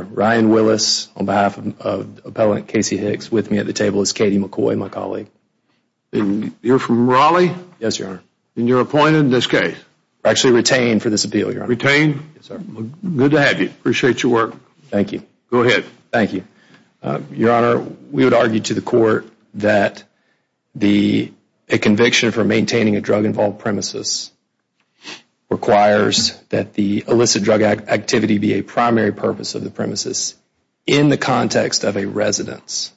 and Ryan Willis on behalf of Appellant Kacey Hicks. With me at the table is Katie McCoy, my colleague. You're from Raleigh? Yes, Your Honor. And you're appointed in this case? Actually retained for this appeal, Your Honor. Retained? Yes, sir. Good to have you. Appreciate your work. Thank you. Go ahead. Thank you. Your Honor, we would argue to the Court that a conviction for maintaining a drug-involved premises requires that the illicit drug activity be a primary purpose of the premises in the context of a residence.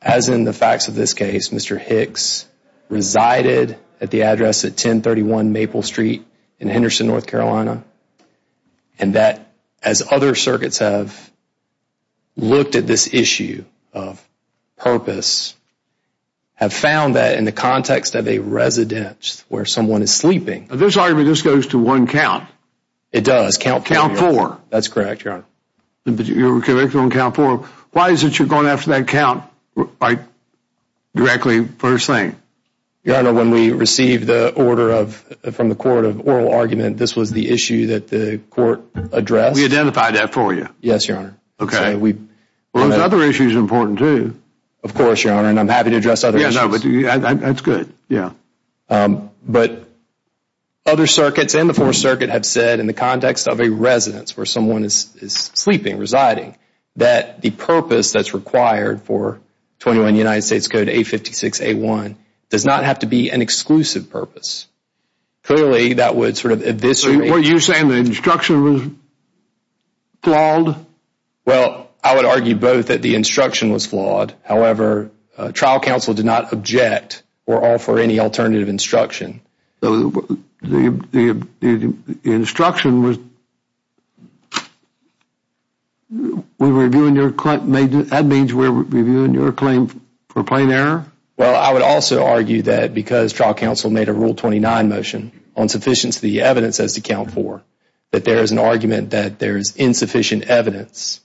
As in the facts of this case, Mr. Hicks resided at the address at 1031 Maple Street in Henderson, North Carolina. And that, as other circuits have looked at this issue of purpose, have found that in the context of a residence where someone is sleeping. But this argument just goes to one count. It does. Count four. Count four. That's correct, Your Honor. But you were convicted on count four. Why is it you're going after that count directly first thing? Your Honor, when we received the order from the Court of oral argument, this was the issue that the Court addressed. We identified that for you. Yes, Your Honor. Okay. Well, those other issues are important, too. Of course, Your Honor. And I'm happy to address other issues. Yeah, that's good. Yeah. But other circuits and the Fourth Circuit have said in the context of a residence where someone is sleeping, residing, that the purpose that's required for 21 United States Code 856-A1 does not have to be an exclusive purpose. Clearly, that would sort of eviscerate So, what you're saying, the instruction was flawed? Well, I would argue both that the instruction was flawed. However, trial counsel did not object or offer any alternative instruction. So, the instruction was, we were reviewing your claim for plain error? Well, I would also argue that because trial counsel made a Rule 29 motion on sufficiency of the evidence as to count four, that there is an argument that there is insufficient evidence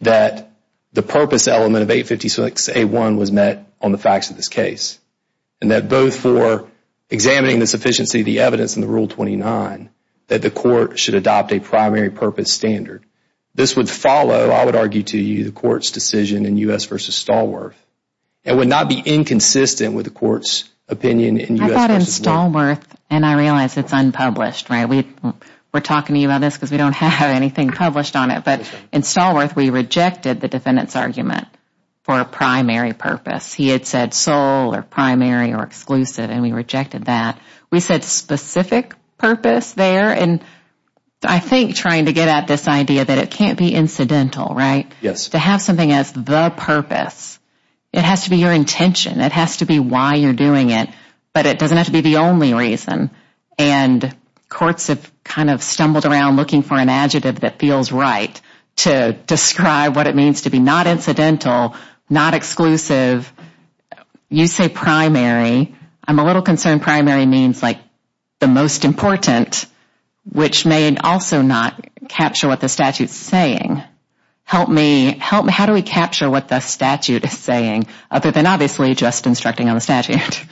that the purpose element of 856-A1 was met on the facts of this case. And that both for examining the sufficiency of the evidence in the Rule 29, that the court should adopt a primary purpose standard. This would follow, I would argue to you, the court's decision in U.S. v. Stallworth. It would not be inconsistent with the court's opinion in U.S. v. Waller. I thought in Stallworth, and I realize it's unpublished, right? We're talking to you about this because we don't have anything published on it. But in Stallworth, we rejected the defendant's argument for a primary purpose. He had said sole or primary or exclusive and we rejected that. We said specific purpose there. And I think trying to get at this idea that it can't be incidental, right? Yes. To have something as the purpose, it has to be your intention. It has to be why you're doing it. But it doesn't have to be the only reason. And courts have kind of stumbled around looking for an adjective that feels right to describe what it means to be not incidental, not exclusive. You say primary. I'm a little concerned primary means like the most important, which may also not capture what the statute is saying. Help me. How do we capture what the statute is saying, other than obviously just instructing on the statute?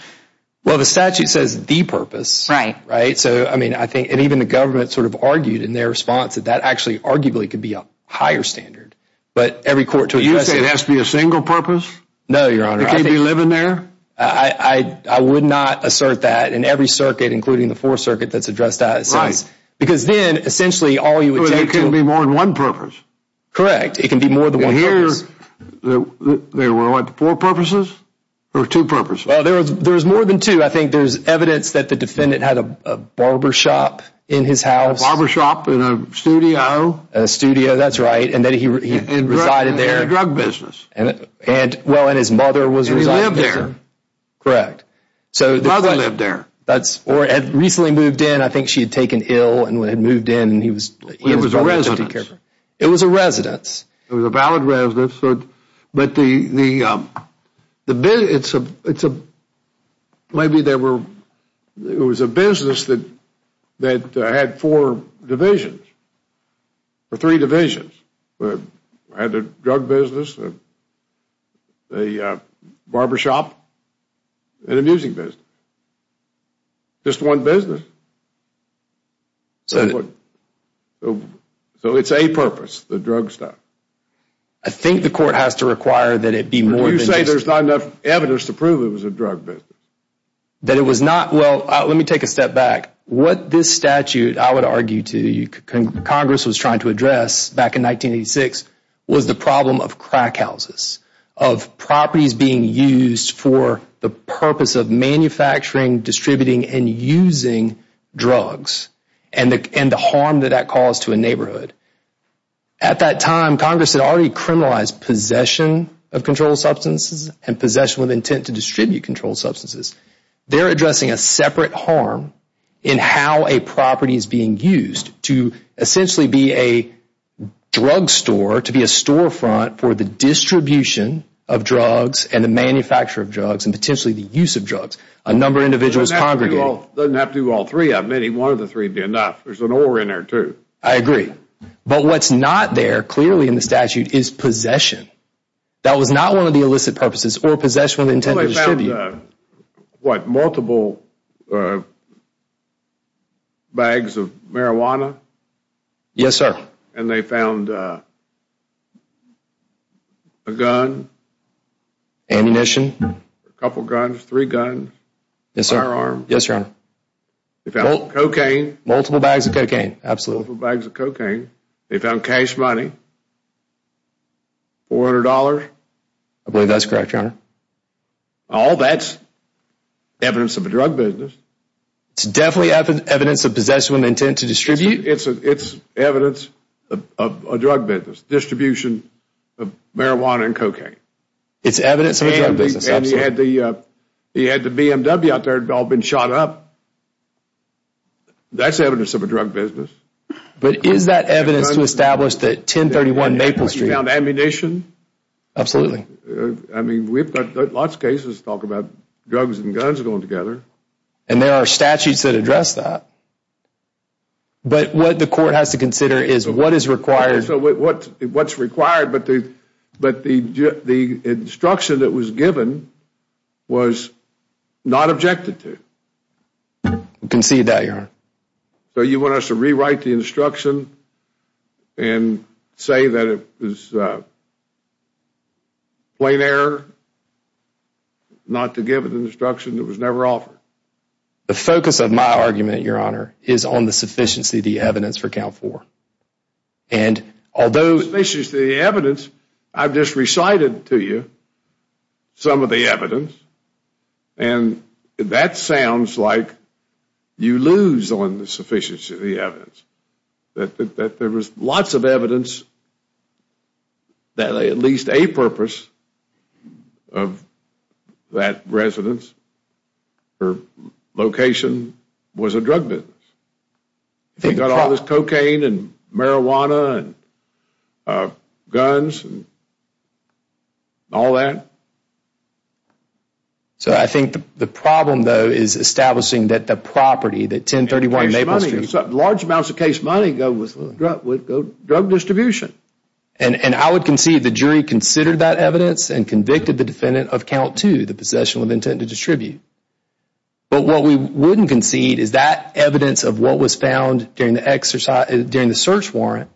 Well, the statute says the purpose. Right. Right. So, I mean, I think and even the government sort of argued in their response that that actually arguably could be a higher standard. But every court to address it. You say it has to be a single purpose? No, Your Honor. It can't be living there? I would not assert that in every circuit, including the Fourth Circuit, that's addressed that. Right. Because then, essentially, all you would take to it. But it can't be more than one purpose. Correct. It can be more than one purpose. And here, there were like four purposes or two purposes? Well, there's more than two. I think there's evidence that the defendant had a barbershop in his house. Barbershop in a studio? In a studio. That's right. And that he resided there. In a drug business. And, well, and his mother was residing there. And he lived there. Correct. Mother lived there. Or had recently moved in. I think she had taken ill and had moved in and he was It was a residence. It was a residence. It was a valid residence, but the business, maybe there were, it was a business that had four divisions, or three divisions, had a drug business, a barbershop, and a music business. Just one business. So, it's a purpose, the drug stuff. I think the court has to require that it be more than just You say there's not enough evidence to prove it was a drug business. That it was not, well, let me take a step back. What this statute, I would argue to you, Congress was trying to address back in 1986 was the problem of crack houses, of properties being used for the purpose of manufacturing, distributing, and using drugs, and the harm that that caused to a neighborhood. At that time, Congress had already criminalized possession of controlled substances and possession with intent to distribute controlled substances. They're addressing a separate harm in how a property is being used to essentially be a drug store, to be a storefront for the distribution of drugs and the manufacture of drugs and potentially the use of drugs. A number of individuals congregated. It doesn't have to be all three of them. Any one of the three would be enough. There's an or in there, too. I agree. But what's not there, clearly in the statute, is possession. That was not one of the illicit purposes, or possession with intent to distribute. Well, they found, what, multiple bags of marijuana? Yes, sir. And they found a gun? Ammunition. A couple of guns, three guns, firearms. Yes, sir. Yes, your honor. They found cocaine. Multiple bags of cocaine. Absolutely. Multiple bags of cocaine. They found cash money, $400. I believe that's correct, your honor. All that's evidence of a drug business. It's definitely evidence of possession with intent to distribute? It's evidence of a drug business, distribution of marijuana and cocaine. It's evidence of a drug business. Absolutely. And you had the BMW out there that had all been shot up. That's evidence of a drug business. But is that evidence to establish that 1031 Maple Street? You found ammunition? Absolutely. I mean, we've got lots of cases that talk about drugs and guns going together. And there are statutes that address that. But what the court has to consider is what is required. So what's required, but the instruction that was given was not objected to? We concede that, your honor. So you want us to rewrite the instruction and say that it was plain error not to give an instruction that was never offered? The focus of my argument, your honor, is on the sufficiency of the evidence for count four. And although... The sufficiency of the evidence, I've just recited to you some of the evidence, and that sounds like you lose on the sufficiency of the evidence. That there was lots of evidence that at least a purpose of that residence or location was a drug business. They got all this cocaine and marijuana and guns and all that. So I think the problem, though, is establishing that the property, that 1031 Maple Street... Large amounts of case money go with drug distribution. And I would concede the jury considered that evidence and convicted the defendant of count two, the possession of intent to distribute. But what we wouldn't concede is that evidence of what was found during the search warrant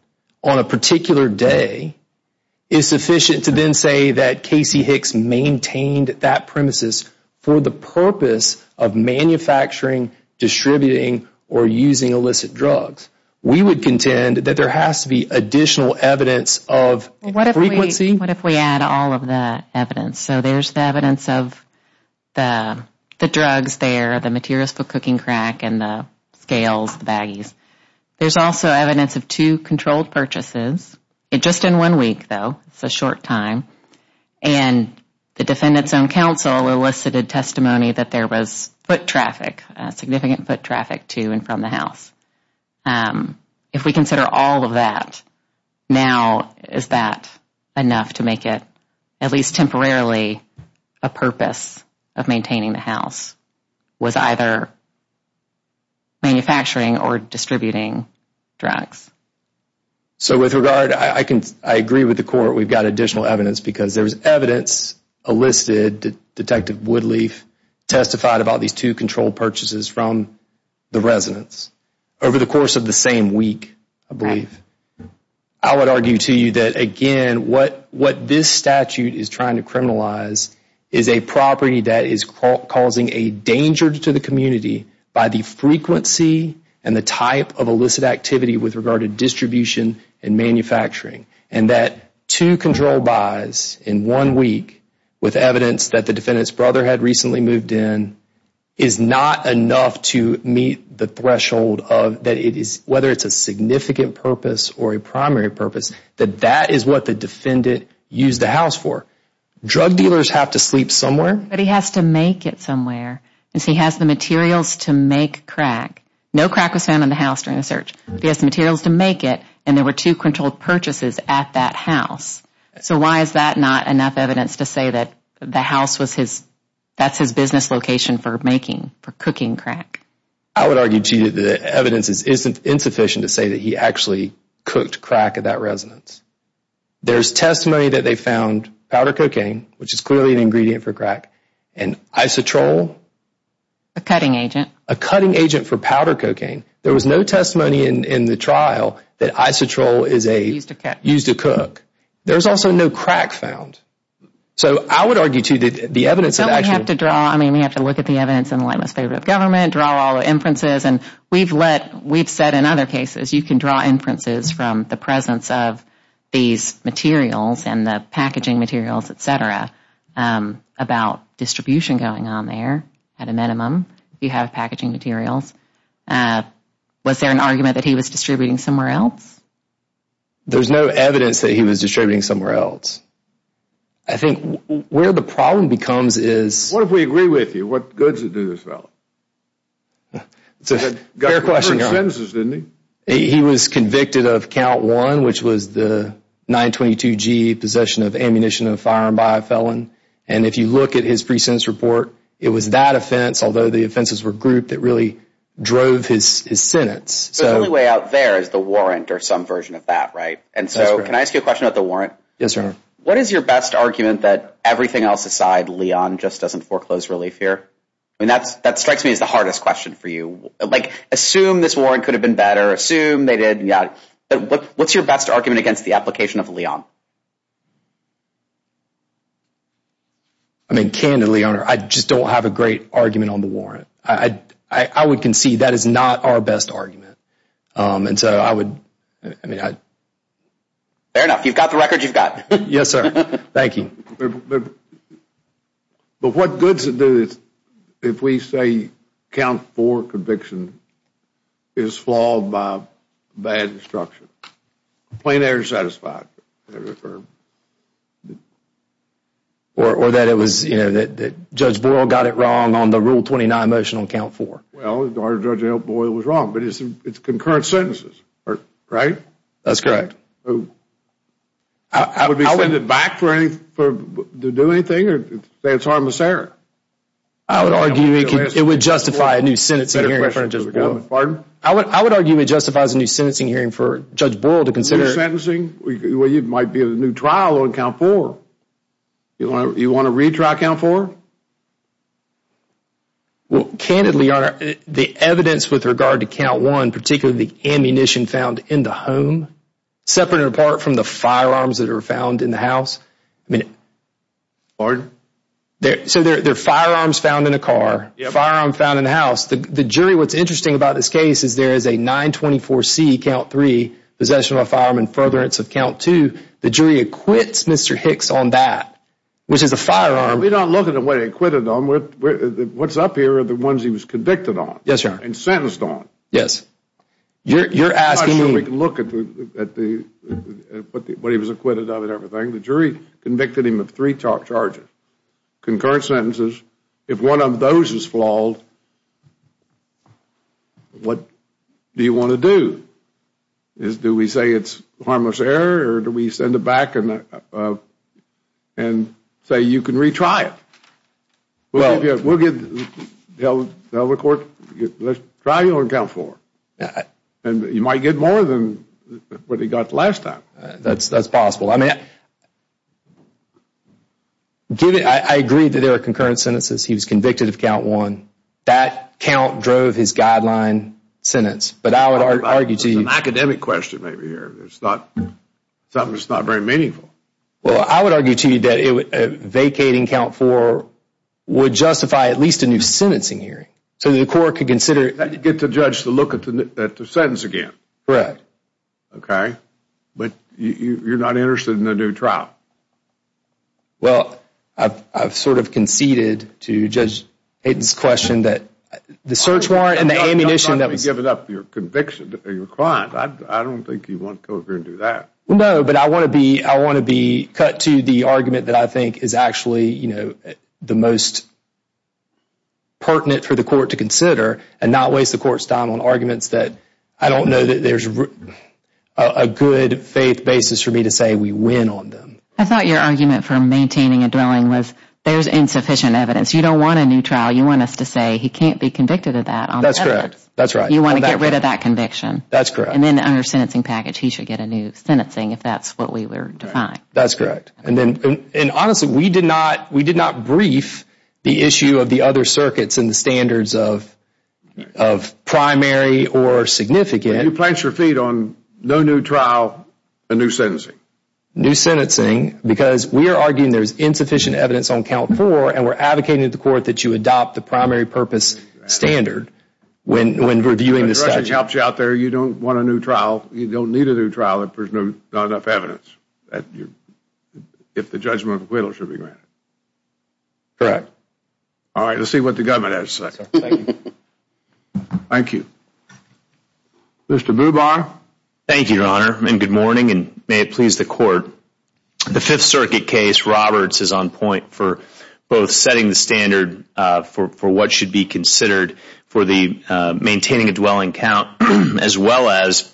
on a particular day is sufficient to then say that Casey Hicks maintained that premises for the purpose of manufacturing, distributing, or using illicit drugs. We would contend that there has to be additional evidence of frequency... What if we add all of that evidence? So there's the evidence of the drugs there, the materials for cooking crack, and the scales, the baggies. There's also evidence of two controlled purchases. Just in one week, though, it's a short time, and the defendant's own counsel elicited testimony that there was foot traffic, significant foot traffic to and from the house. If we consider all of that, now, is that enough to make it, at least temporarily, a purpose of maintaining the house was either manufacturing or distributing drugs? So with regard, I agree with the court. We've got additional evidence because there's evidence elicited that Detective Woodleaf testified about these two controlled purchases from the residence over the course of the same week, I believe. I would argue to you that, again, what this statute is trying to criminalize is a property that is causing a danger to the community by the frequency and the type of illicit activity with regard to distribution and manufacturing. And that two controlled buys in one week with evidence that the defendant's brother had recently moved in is not enough to meet the threshold of that it is, whether it's a significant purpose or a primary purpose, that that is what the defendant used the house for. Drug dealers have to sleep somewhere. But he has to make it somewhere because he has the materials to make crack. No crack was found in the house during the search. He has the materials to make it, and there were two controlled purchases at that house. So why is that not enough evidence to say that the house was his, that's his business location for making, for cooking crack? I would argue to you that the evidence isn't insufficient to say that he actually cooked crack at that residence. There's testimony that they found powder cocaine, which is clearly an ingredient for crack, and isotrol. A cutting agent. A cutting agent for powder cocaine. There was no testimony in the trial that isotrol is a, used to cook. There's also no crack found. So I would argue to you that the evidence of actually, Someone would have to draw, I mean, we have to look at the evidence in the light of the government, draw all the inferences, and we've let, we've said in other cases, you can draw inferences from the presence of these materials and the packaging materials, et cetera, about distribution going on there, at a minimum, if you have packaging materials. Was there an argument that he was distributing somewhere else? There's no evidence that he was distributing somewhere else. I think where the problem becomes is, What if we agree with you? What good does it do this fellow? Fair question. He got confirmed sentences, didn't he? He was convicted of count one, which was the 922G possession of ammunition and a firearm by a felon. And if you look at his pre-sentence report, it was that offense, although the offenses were grouped, that really drove his sentence. So the only way out there is the warrant or some version of that, right? And so can I ask you a question about the warrant? Yes, Your Honor. What is your best argument that everything else aside, Leon just doesn't foreclose relief here? I mean, that strikes me as the hardest question for you. Like assume this warrant could have been better, assume they did, yeah. What's your best argument against the application of Leon? I mean, candidly, Your Honor, I just don't have a great argument on the warrant. I would concede that is not our best argument. And so I would, I mean, I... Fair enough. You've got the record you've got. Yes, sir. Thank you. But what good does it do if we say count four conviction is flawed by bad instruction? Complaint error satisfied. Or that it was, you know, that Judge Boyle got it wrong on the Rule 29 motion on count four. Well, Judge Boyle was wrong, but it's concurrent sentences, right? That's correct. I would be sending it back to do anything or say it's harmless error? I would argue it would justify a new sentencing hearing in front of Judge Boyle. I would argue it justifies a new sentencing hearing for Judge Boyle to consider... Well, you might be in a new trial on count four. You want to retry count four? Well, candidly, Your Honor, the evidence with regard to count one, particularly the ammunition found in the home, separate and apart from the firearms that are found in the house, I mean... Pardon? So there are firearms found in a car, firearms found in the house. The jury, what's interesting about this case is there is a 924C, count three, possession of a firearm in furtherance of count two. The jury acquits Mr. Hicks on that, which is a firearm... We don't look at the way they acquitted him. What's up here are the ones he was convicted on and sentenced on. Yes. You're asking me... I'm not sure we can look at what he was acquitted of and everything. The jury convicted him of three charges, concurrent sentences. If one of those is flawed, what do you want to do? Do we say it's harmless error, or do we send it back and say, you can retry it? Well... We'll tell the court, let's try you on count four. And you might get more than what he got the last time. That's possible. I mean, I agree that there are concurrent sentences. He was convicted of count one. That count drove his guideline sentence. But I would argue to you... It's an academic question right here. It's not... Something that's not very meaningful. Well, I would argue to you that a vacating count four would justify at least a new sentencing hearing so that the court could consider... You'd get the judge to look at the sentence again. Correct. Okay. But you're not interested in a new trial. Well, I've sort of conceded to Judge Hayden's question that the search warrant and the ammunition that was... You're not going to give it up for your conviction or your crime. I don't think he'd want to go over and do that. No, but I want to be cut to the argument that I think is actually the most pertinent for the court to consider and not waste the court's time on arguments that I don't know that there's a good faith basis for me to say we win on them. I thought your argument for maintaining a dwelling was, there's insufficient evidence. You don't want a new trial. You want us to say, he can't be convicted of that on the evidence. That's correct. That's right. You want to get rid of that conviction. That's correct. And then under sentencing package, he should get a new sentencing if that's what we were defined. That's correct. And honestly, we did not brief the issue of the other circuits and the standards of primary or significant. You plant your feet on no new trial, a new sentencing. New sentencing because we are arguing there's insufficient evidence on count four and we're reviewing the statute. If the judge helps you out there, you don't want a new trial. You don't need a new trial if there's not enough evidence, if the judgment of acquittal should be granted. Correct. All right. Let's see what the government has to say. Thank you. Mr. Bubar. Thank you, Your Honor, and good morning, and may it please the court. The Fifth Circuit case, Roberts is on point for both setting the standard for what should be considered for the maintaining a dwelling count as well as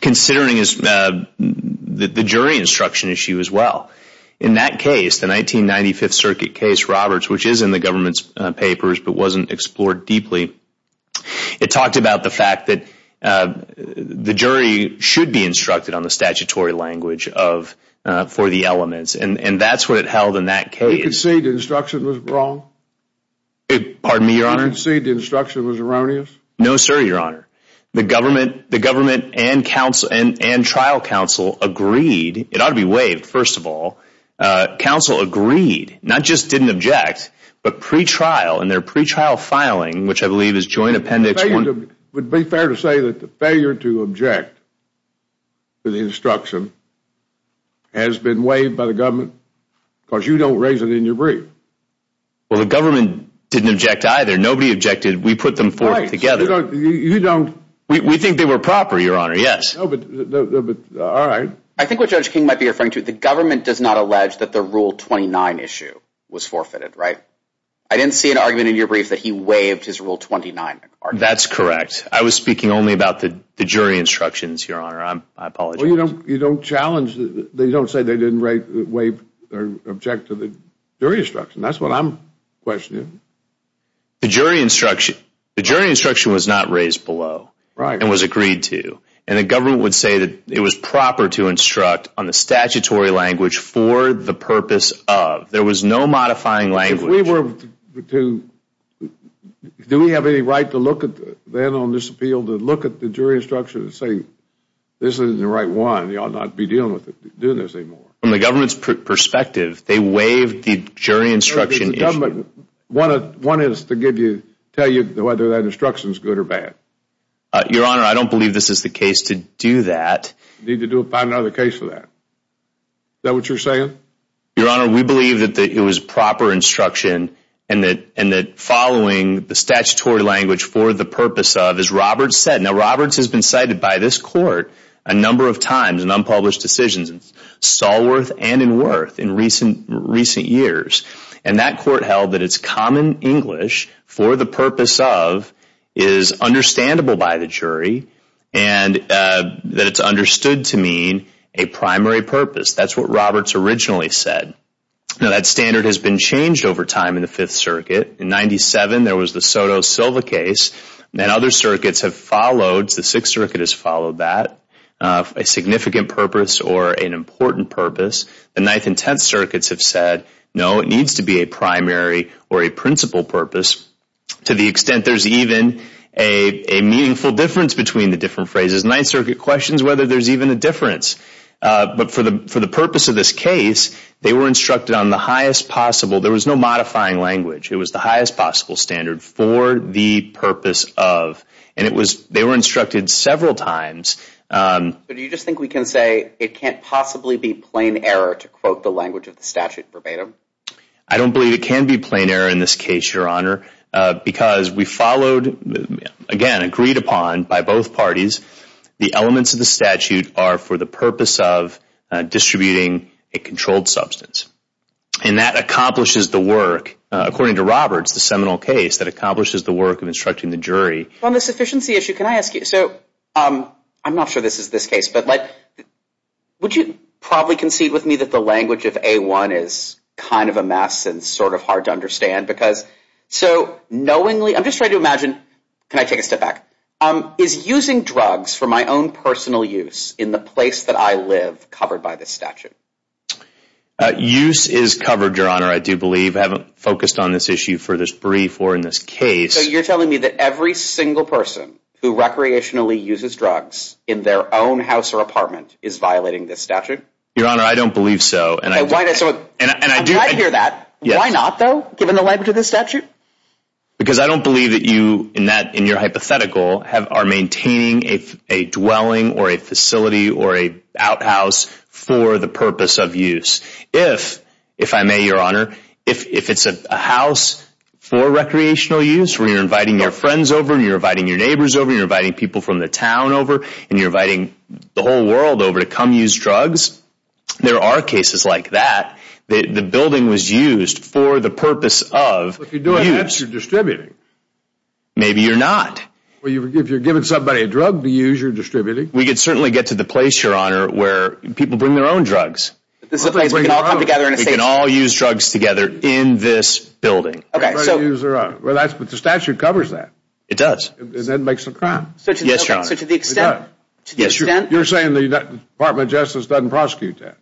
considering the jury instruction issue as well. In that case, the 1995th Circuit case, Roberts, which is in the government's papers but wasn't explored deeply, it talked about the fact that the jury should be instructed on the statutory language for the elements. And that's what it held in that case. You can say the instruction was wrong? Pardon me, Your Honor? You concede the instruction was erroneous? No, sir, Your Honor. The government and trial counsel agreed, it ought to be waived, first of all. Counsel agreed, not just didn't object, but pre-trial, in their pre-trial filing, which I believe is joint appendix one. Would it be fair to say that the failure to object to the instruction has been waived by the government because you don't raise it in your brief? Well, the government didn't object either. Nobody objected. We put them forth together. Right, so you don't... We think they were proper, Your Honor, yes. No, but... All right. I think what Judge King might be referring to, the government does not allege that the Rule 29 issue was forfeited, right? I didn't see an argument in your brief that he waived his Rule 29 argument. That's correct. I was speaking only about the jury instructions, Your Honor. I apologize. Well, you don't challenge... They don't say they didn't waive or object to the jury instruction. That's what I'm questioning. The jury instruction was not raised below and was agreed to, and the government would say that it was proper to instruct on the statutory language for the purpose of. There was no modifying language. Do we have any right to look at, then, on this appeal, to look at the jury instruction and say, this isn't the right one, you ought not be dealing with it, doing this anymore? From the government's perspective, they waived the jury instruction issue. All right, but the government wanted us to give you, tell you whether that instruction is good or bad. Your Honor, I don't believe this is the case to do that. You need to find another case for that. Is that what you're saying? Statutory language for the purpose of, as Roberts said, now, Roberts has been cited by this court a number of times in unpublished decisions, in Stallworth and in Wirth in recent years, and that court held that it's common English for the purpose of is understandable by the jury and that it's understood to mean a primary purpose. That's what Roberts originally said. Now, that standard has been changed over time in the Fifth Circuit. In 97, there was the Soto-Silva case, and other circuits have followed, the Sixth Circuit has followed that, a significant purpose or an important purpose. The Ninth and Tenth Circuits have said, no, it needs to be a primary or a principal purpose to the extent there's even a meaningful difference between the different phrases. Ninth Circuit questions whether there's even a difference. But for the purpose of this case, they were instructed on the highest possible, there was no modifying language. It was the highest possible standard for the purpose of, and it was, they were instructed several times. But do you just think we can say it can't possibly be plain error to quote the language of the statute verbatim? I don't believe it can be plain error in this case, Your Honor, because we followed, again, agreed upon by both parties, the elements of the statute are for the purpose of distributing a controlled substance. And that accomplishes the work, according to Roberts, the seminal case that accomplishes the work of instructing the jury. On the sufficiency issue, can I ask you, so, I'm not sure this is this case, but would you probably concede with me that the language of A-1 is kind of a mess and sort of hard to understand? Because, so, knowingly, I'm just trying to imagine, can I take a step back, is using drugs for my own personal use in the place that I live covered by this statute? Use is covered, Your Honor, I do believe, I haven't focused on this issue for this brief or in this case. So you're telling me that every single person who recreationally uses drugs in their own house or apartment is violating this statute? Your Honor, I don't believe so. And I do. I hear that. Why not, though, given the language of this statute? Because I don't believe that you, in your hypothetical, are maintaining a dwelling or a facility or a outhouse for the purpose of use. If, if I may, Your Honor, if it's a house for recreational use, where you're inviting your friends over and you're inviting your neighbors over and you're inviting people from the town over and you're inviting the whole world over to come use drugs, there are cases like that. The building was used for the purpose of use. If you're doing that, you're distributing. Maybe you're not. Well, if you're giving somebody a drug to use, you're distributing. We could certainly get to the place, Your Honor, where people bring their own drugs. This is a place where we can all come together and say we can all use drugs together in this building. Everybody use their own. Well, that's, but the statute covers that. It does. And that makes a crime. Yes, Your Honor. So to the extent. Yes, Your Honor. You're saying the Department of Justice doesn't prosecute that?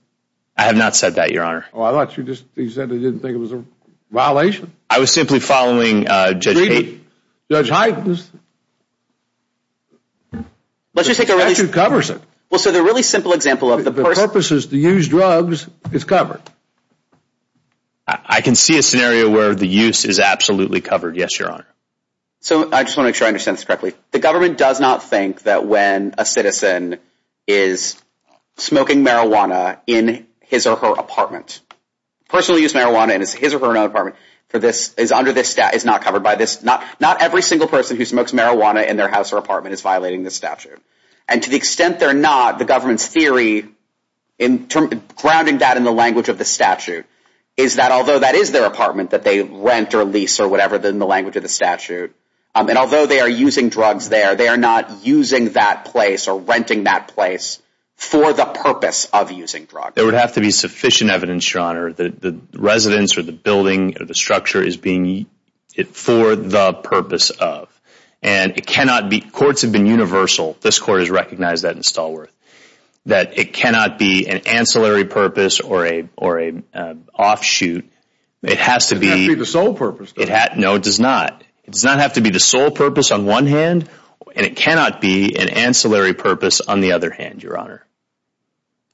I have not said that, Your Honor. Oh, I thought you just, you said you didn't think it was a violation. I was simply following Judge Hayden. Judge Hayden's. Let's just take a really. The statute covers it. Well, so the really simple example of the. The purpose is to use drugs, it's covered. I can see a scenario where the use is absolutely covered, yes, Your Honor. So I just want to make sure I understand this correctly. The government does not think that when a citizen is smoking marijuana in his or her apartment, personal use marijuana in his or her own apartment for this, is under this stat, is not covered by this. Not every single person who smokes marijuana in their house or apartment is violating the statute. And to the extent they're not, the government's theory in grounding that in the language of the statute, is that although that is their apartment that they rent or lease or whatever in the language of the statute, and although they are using drugs there, they are not using that place or renting that place for the purpose of using drugs. There would have to be sufficient evidence, Your Honor, that the residence or the building or the structure is being used for the purpose of. And it cannot be, courts have been universal, this court has recognized that in Stallworth, that it cannot be an ancillary purpose or an offshoot. It has to be. It has to be the sole purpose. No, it does not. It does not have to be the sole purpose on one hand, and it cannot be an ancillary purpose on the other hand, Your Honor.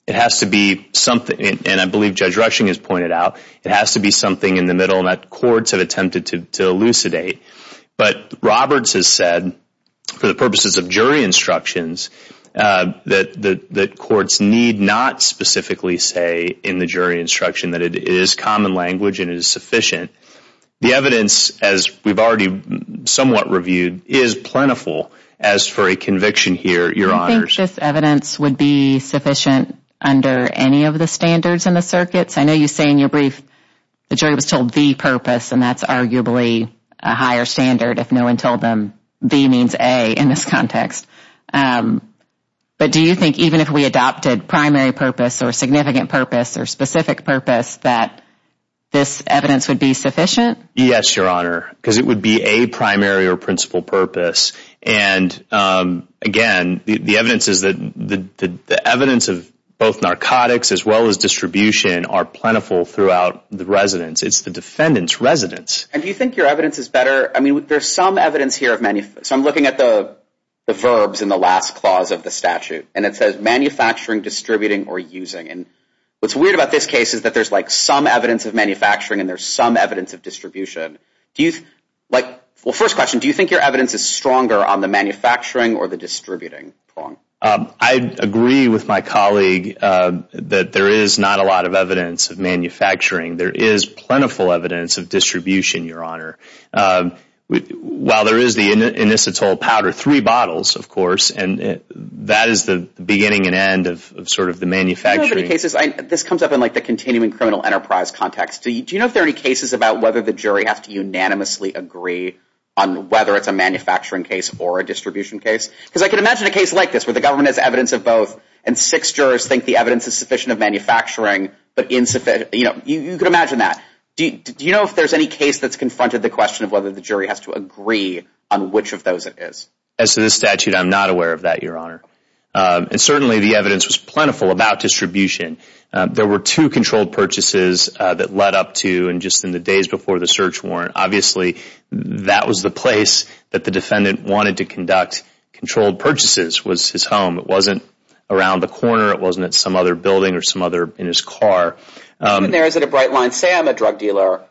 It has to be something, and I believe Judge Rushing has pointed out, it has to be something in the middle that courts have attempted to elucidate. But Roberts has said, for the purposes of jury instructions, that courts need not specifically say in the jury instruction that it is common language and it is sufficient. The evidence, as we've already somewhat reviewed, is plentiful as for a conviction here, Your Honor. Do you think this evidence would be sufficient under any of the standards in the circuits? I know you say in your brief the jury was told the purpose, and that's arguably a higher standard if no one told them the means A in this context, but do you think even if we adopted primary purpose or significant purpose or specific purpose that this evidence would be sufficient? Yes, Your Honor, because it would be a primary or principal purpose, and again, the evidence is that the evidence of both narcotics as well as distribution are plentiful throughout the residence. It's the defendant's residence. And do you think your evidence is better? I mean, there's some evidence here of, so I'm looking at the verbs in the last clause of the statute, and it says manufacturing, distributing, or using, and what's weird about this case is that there's some evidence of manufacturing and there's some evidence of distribution. Well, first question, do you think your evidence is stronger on the manufacturing or the distributing prong? I agree with my colleague that there is not a lot of evidence of manufacturing. There is plentiful evidence of distribution, Your Honor. While there is the inositol powder, three bottles, of course, and that is the beginning and end of sort of the manufacturing. Do you know of any cases, this comes up in like the continuing criminal enterprise context, do you know if there are any cases about whether the jury has to unanimously agree on whether it's a manufacturing case or a distribution case? Because I can imagine a case like this where the government has evidence of both and six jurors think the evidence is sufficient of manufacturing, but insufficient, you know, you can imagine that. Do you know if there's any case that's confronted the question of whether the jury has to agree on which of those it is? As to this statute, I'm not aware of that, Your Honor. And certainly the evidence was plentiful about distribution. There were two controlled purchases that led up to, and just in the days before the search warrant. Obviously, that was the place that the defendant wanted to conduct controlled purchases was his home. It wasn't around the corner. It wasn't at some other building or some other, in his car. Even there, is it a bright line? Say I'm a drug dealer.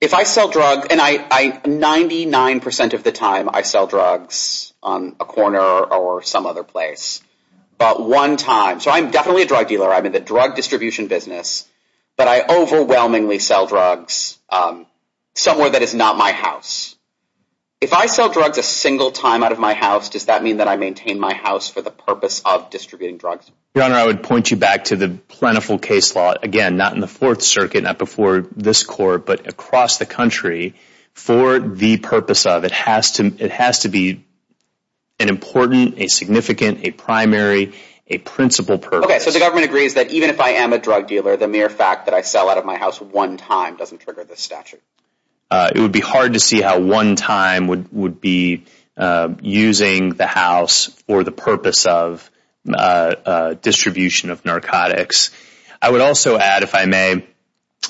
If I sell drugs, and I, 99% of the time I sell drugs on a corner or some other place. But one time, so I'm definitely a drug dealer, I'm in the drug distribution business. But I overwhelmingly sell drugs somewhere that is not my house. If I sell drugs a single time out of my house, does that mean that I maintain my house for the purpose of distributing drugs? Your Honor, I would point you back to the plentiful case law. Again, not in the Fourth Circuit, not before this Court, but across the country. For the purpose of it, it has to be an important, a significant, a primary, a principal purpose. Okay, so the government agrees that even if I am a drug dealer, the mere fact that I sell out of my house one time doesn't trigger this statute. It would be hard to see how one time would be using the house for the purpose of distribution of narcotics. I would also add, if I may,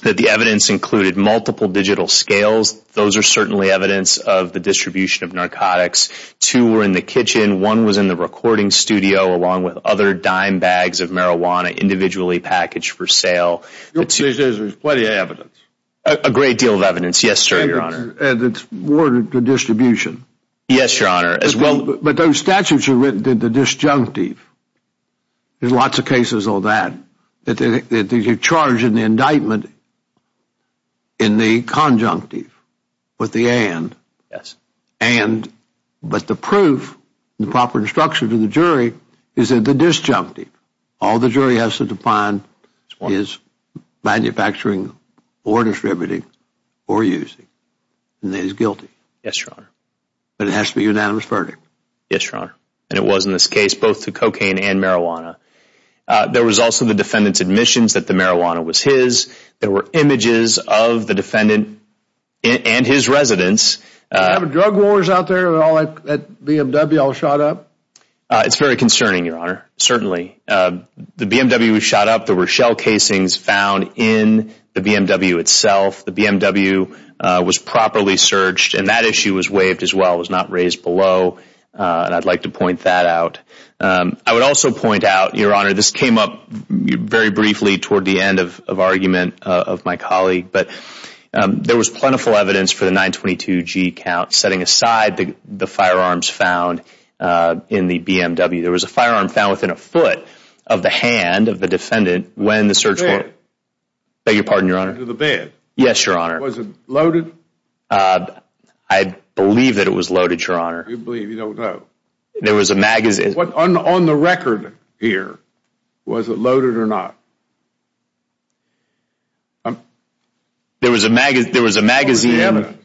that the evidence included multiple digital scales. Those are certainly evidence of the distribution of narcotics. Two were in the kitchen. One was in the recording studio, along with other dime bags of marijuana, individually packaged for sale. Your position is there's plenty of evidence? A great deal of evidence, yes, sir, Your Honor. And it's more to distribution? Yes, Your Honor. But those statutes are written in the disjunctive. There's lots of cases of that. You're charged in the indictment in the conjunctive, with the and. Yes. And, but the proof, the proper instruction to the jury, is in the disjunctive. All the jury has to define is manufacturing, or distributing, or using, and that he's guilty. Yes, Your Honor. But it has to be a unanimous verdict. Yes, Your Honor. And it was in this case, both to cocaine and marijuana. There was also the defendant's admissions that the marijuana was his. There were images of the defendant and his residence. Do you have a drug wars out there, where all that BMW all shot up? It's very concerning, Your Honor, certainly. The BMW was shot up. There were shell casings found in the BMW itself. The BMW was properly searched, and that issue was waived as well. It was not raised below, and I'd like to point that out. I would also point out, Your Honor, this came up very briefly toward the end of argument of my colleague, but there was plentiful evidence for the 922G count, setting aside the firearms found in the BMW. There was a firearm found within a foot of the hand of the defendant when the search warrant... The band. Beg your pardon, Your Honor. The band. Yes, Your Honor. Was it loaded? I believe that it was loaded, Your Honor. You believe, you don't know. There was a magazine. What on the record here, was it loaded or not? There was a magazine. What was the evidence?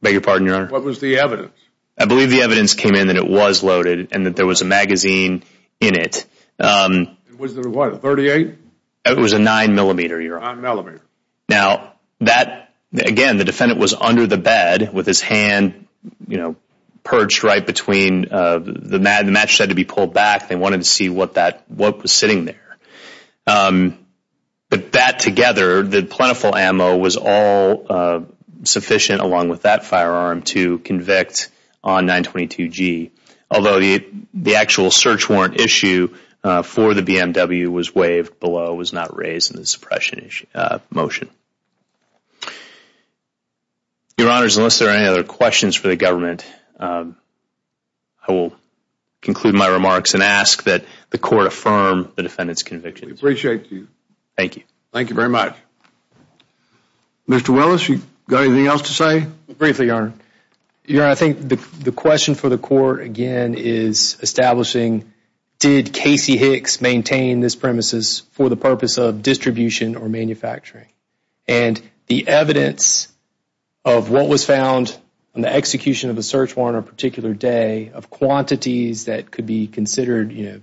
Beg your pardon, Your Honor. What was the evidence? I believe the evidence came in that it was loaded, and that there was a magazine in it. Was there, what, a .38? It was a 9mm, Your Honor. 9mm. Now, that, again, the defendant was under the bed with his hand, you know, perched right between, the mattress had to be pulled back. They wanted to see what that, what was sitting there, but that together, the plentiful ammo was all sufficient along with that firearm to convict on 922G, although the actual search warrant issue for the BMW was waived below, was not raised in the suppression motion. Your Honors, unless there are any other questions for the government, I will conclude my remarks and ask that the Court affirm the defendant's conviction. We appreciate you. Thank you. Thank you very much. Mr. Willis, you got anything else to say? Briefly, Your Honor. Your Honor, I think the question for the Court, again, is establishing, did Casey Hicks maintain this premises for the purpose of distribution or manufacturing? And the evidence of what was found on the execution of the search warrant on a particular day of quantities that could be considered, you know,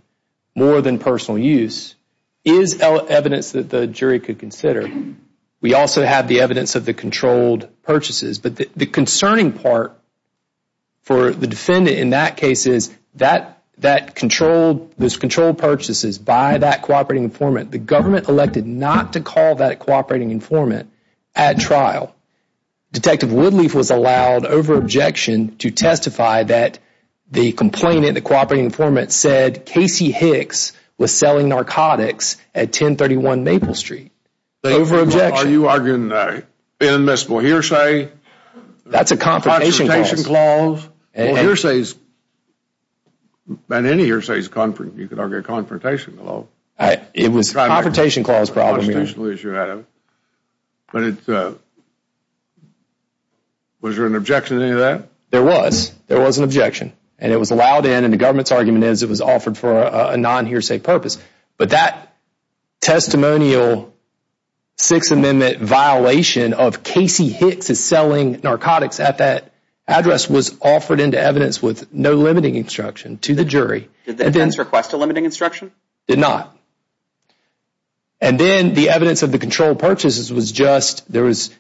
more than personal use, is evidence that the jury could consider. We also have the evidence of the controlled purchases, but the concerning part for the defendant in that case is that controlled, those controlled purchases by that cooperating informant, the government elected not to call that cooperating informant at trial. Detective Woodleaf was allowed, over objection, to testify that the complainant, the cooperating informant, said Casey Hicks was selling narcotics at 1031 Maple Street. Over objection. Are you arguing an admissible hearsay? That's a confrontation clause. Confrontation clause. Well, hearsays, on any hearsays, you could argue a confrontation clause. It was a confrontation clause problem, Your Honor. But it, was there an objection to any of that? There was. There was an objection. And it was allowed in, and the government's argument is it was offered for a non-hearsay purpose. But that testimonial Sixth Amendment violation of Casey Hicks is selling narcotics at that address was offered into evidence with no limiting instruction to the jury. Did the defense request a limiting instruction? Did not. And then the evidence of the controlled purchases was just, there was,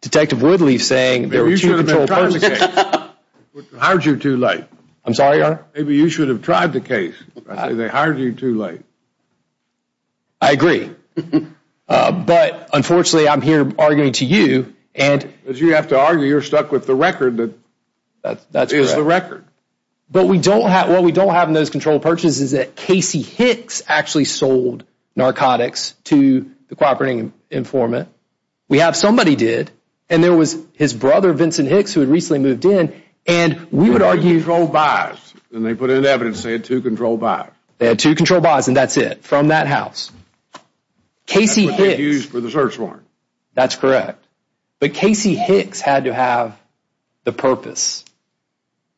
Detective Woodleaf saying there were two controlled purchases. Maybe you should have been trying the case. It would have hired you too late. I'm sorry, Your Honor? Maybe you should have tried the case. I say they hired you too late. I agree. But unfortunately, I'm here arguing to you. And as you have to argue, you're stuck with the record that is the record. But we don't have, what we don't have in those controlled purchases is that Casey Hicks actually sold narcotics to the cooperating informant. We have somebody did, and there was his brother, Vincent Hicks, who had recently moved in, and we would argue. Two controlled buys. And they put in evidence saying two controlled buys. They had two controlled buys, and that's it. From that house. Casey Hicks. That's what they used for the search warrant. That's correct. But Casey Hicks had to have the purpose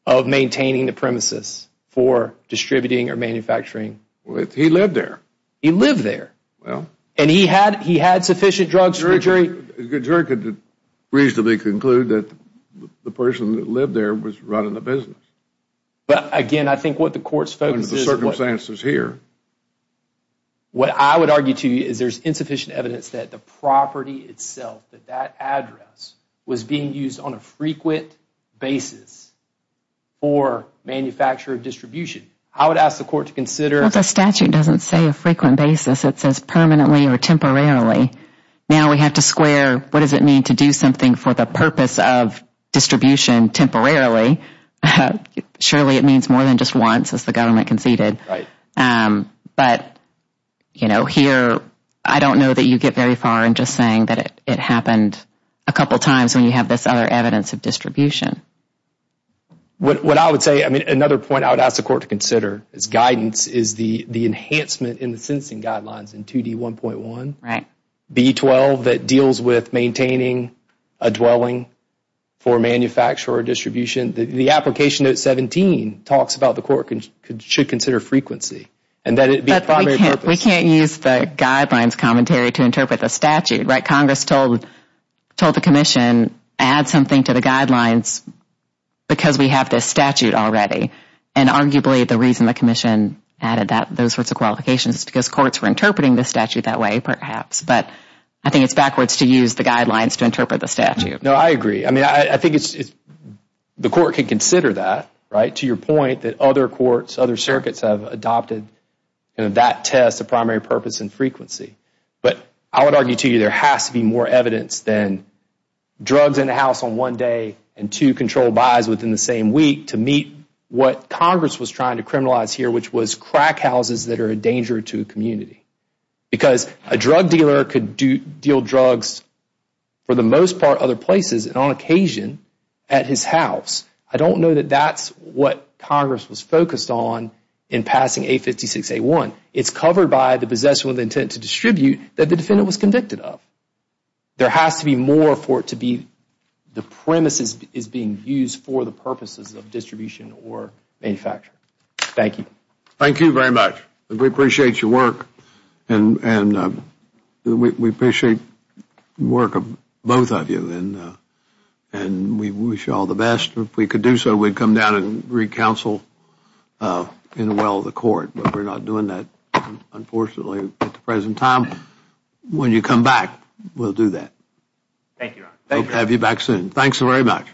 of maintaining the premises for distributing or manufacturing. Well, he lived there. He lived there. Well. And he had, he had sufficient drugs for the jury. The jury could reasonably conclude that the person that lived there was running the business. But again, I think what the court's focus is, what I would argue to you is there's insufficient evidence that the property itself, that that address, was being used on a frequent basis for manufacture or distribution. I would ask the court to consider, Well, the statute doesn't say a frequent basis. It says permanently or temporarily. Now we have to square what does it mean to do something for the purpose of distribution and temporarily, surely it means more than just once, as the government conceded. But you know, here, I don't know that you get very far in just saying that it happened a couple times when you have this other evidence of distribution. What I would say, I mean, another point I would ask the court to consider is guidance is the enhancement in the sensing guidelines in 2D1.1, B12, that deals with maintaining a dwelling for manufacture or distribution. The application, note 17, talks about the court should consider frequency and that it be a primary purpose. But we can't use the guidelines commentary to interpret the statute, right? Congress told the commission, Add something to the guidelines because we have this statute already. And arguably, the reason the commission added those sorts of qualifications is because courts were interpreting the statute that way, perhaps. But I think it's backwards to use the guidelines to interpret the statute. No, I agree. I mean, I think the court can consider that, right? To your point that other courts, other circuits have adopted that test, the primary purpose and frequency. But I would argue to you there has to be more evidence than drugs in the house on one day and two controlled buys within the same week to meet what Congress was trying to criminalize here, which was crack houses that are a danger to a community. Because a drug dealer could deal drugs, for the most part, other places and on occasion at his house. I don't know that that's what Congress was focused on in passing 856A1. It's covered by the possession with intent to distribute that the defendant was convicted of. There has to be more for it to be the premises is being used for the purposes of distribution or manufacture. Thank you. Thank you very much. We appreciate your work and we appreciate the work of both of you and we wish you all the best. If we could do so, we'd come down and re-counsel in the well of the court. But we're not doing that, unfortunately, at the present time. When you come back, we'll do that. Thank you. We'll have you back soon. Thanks very much.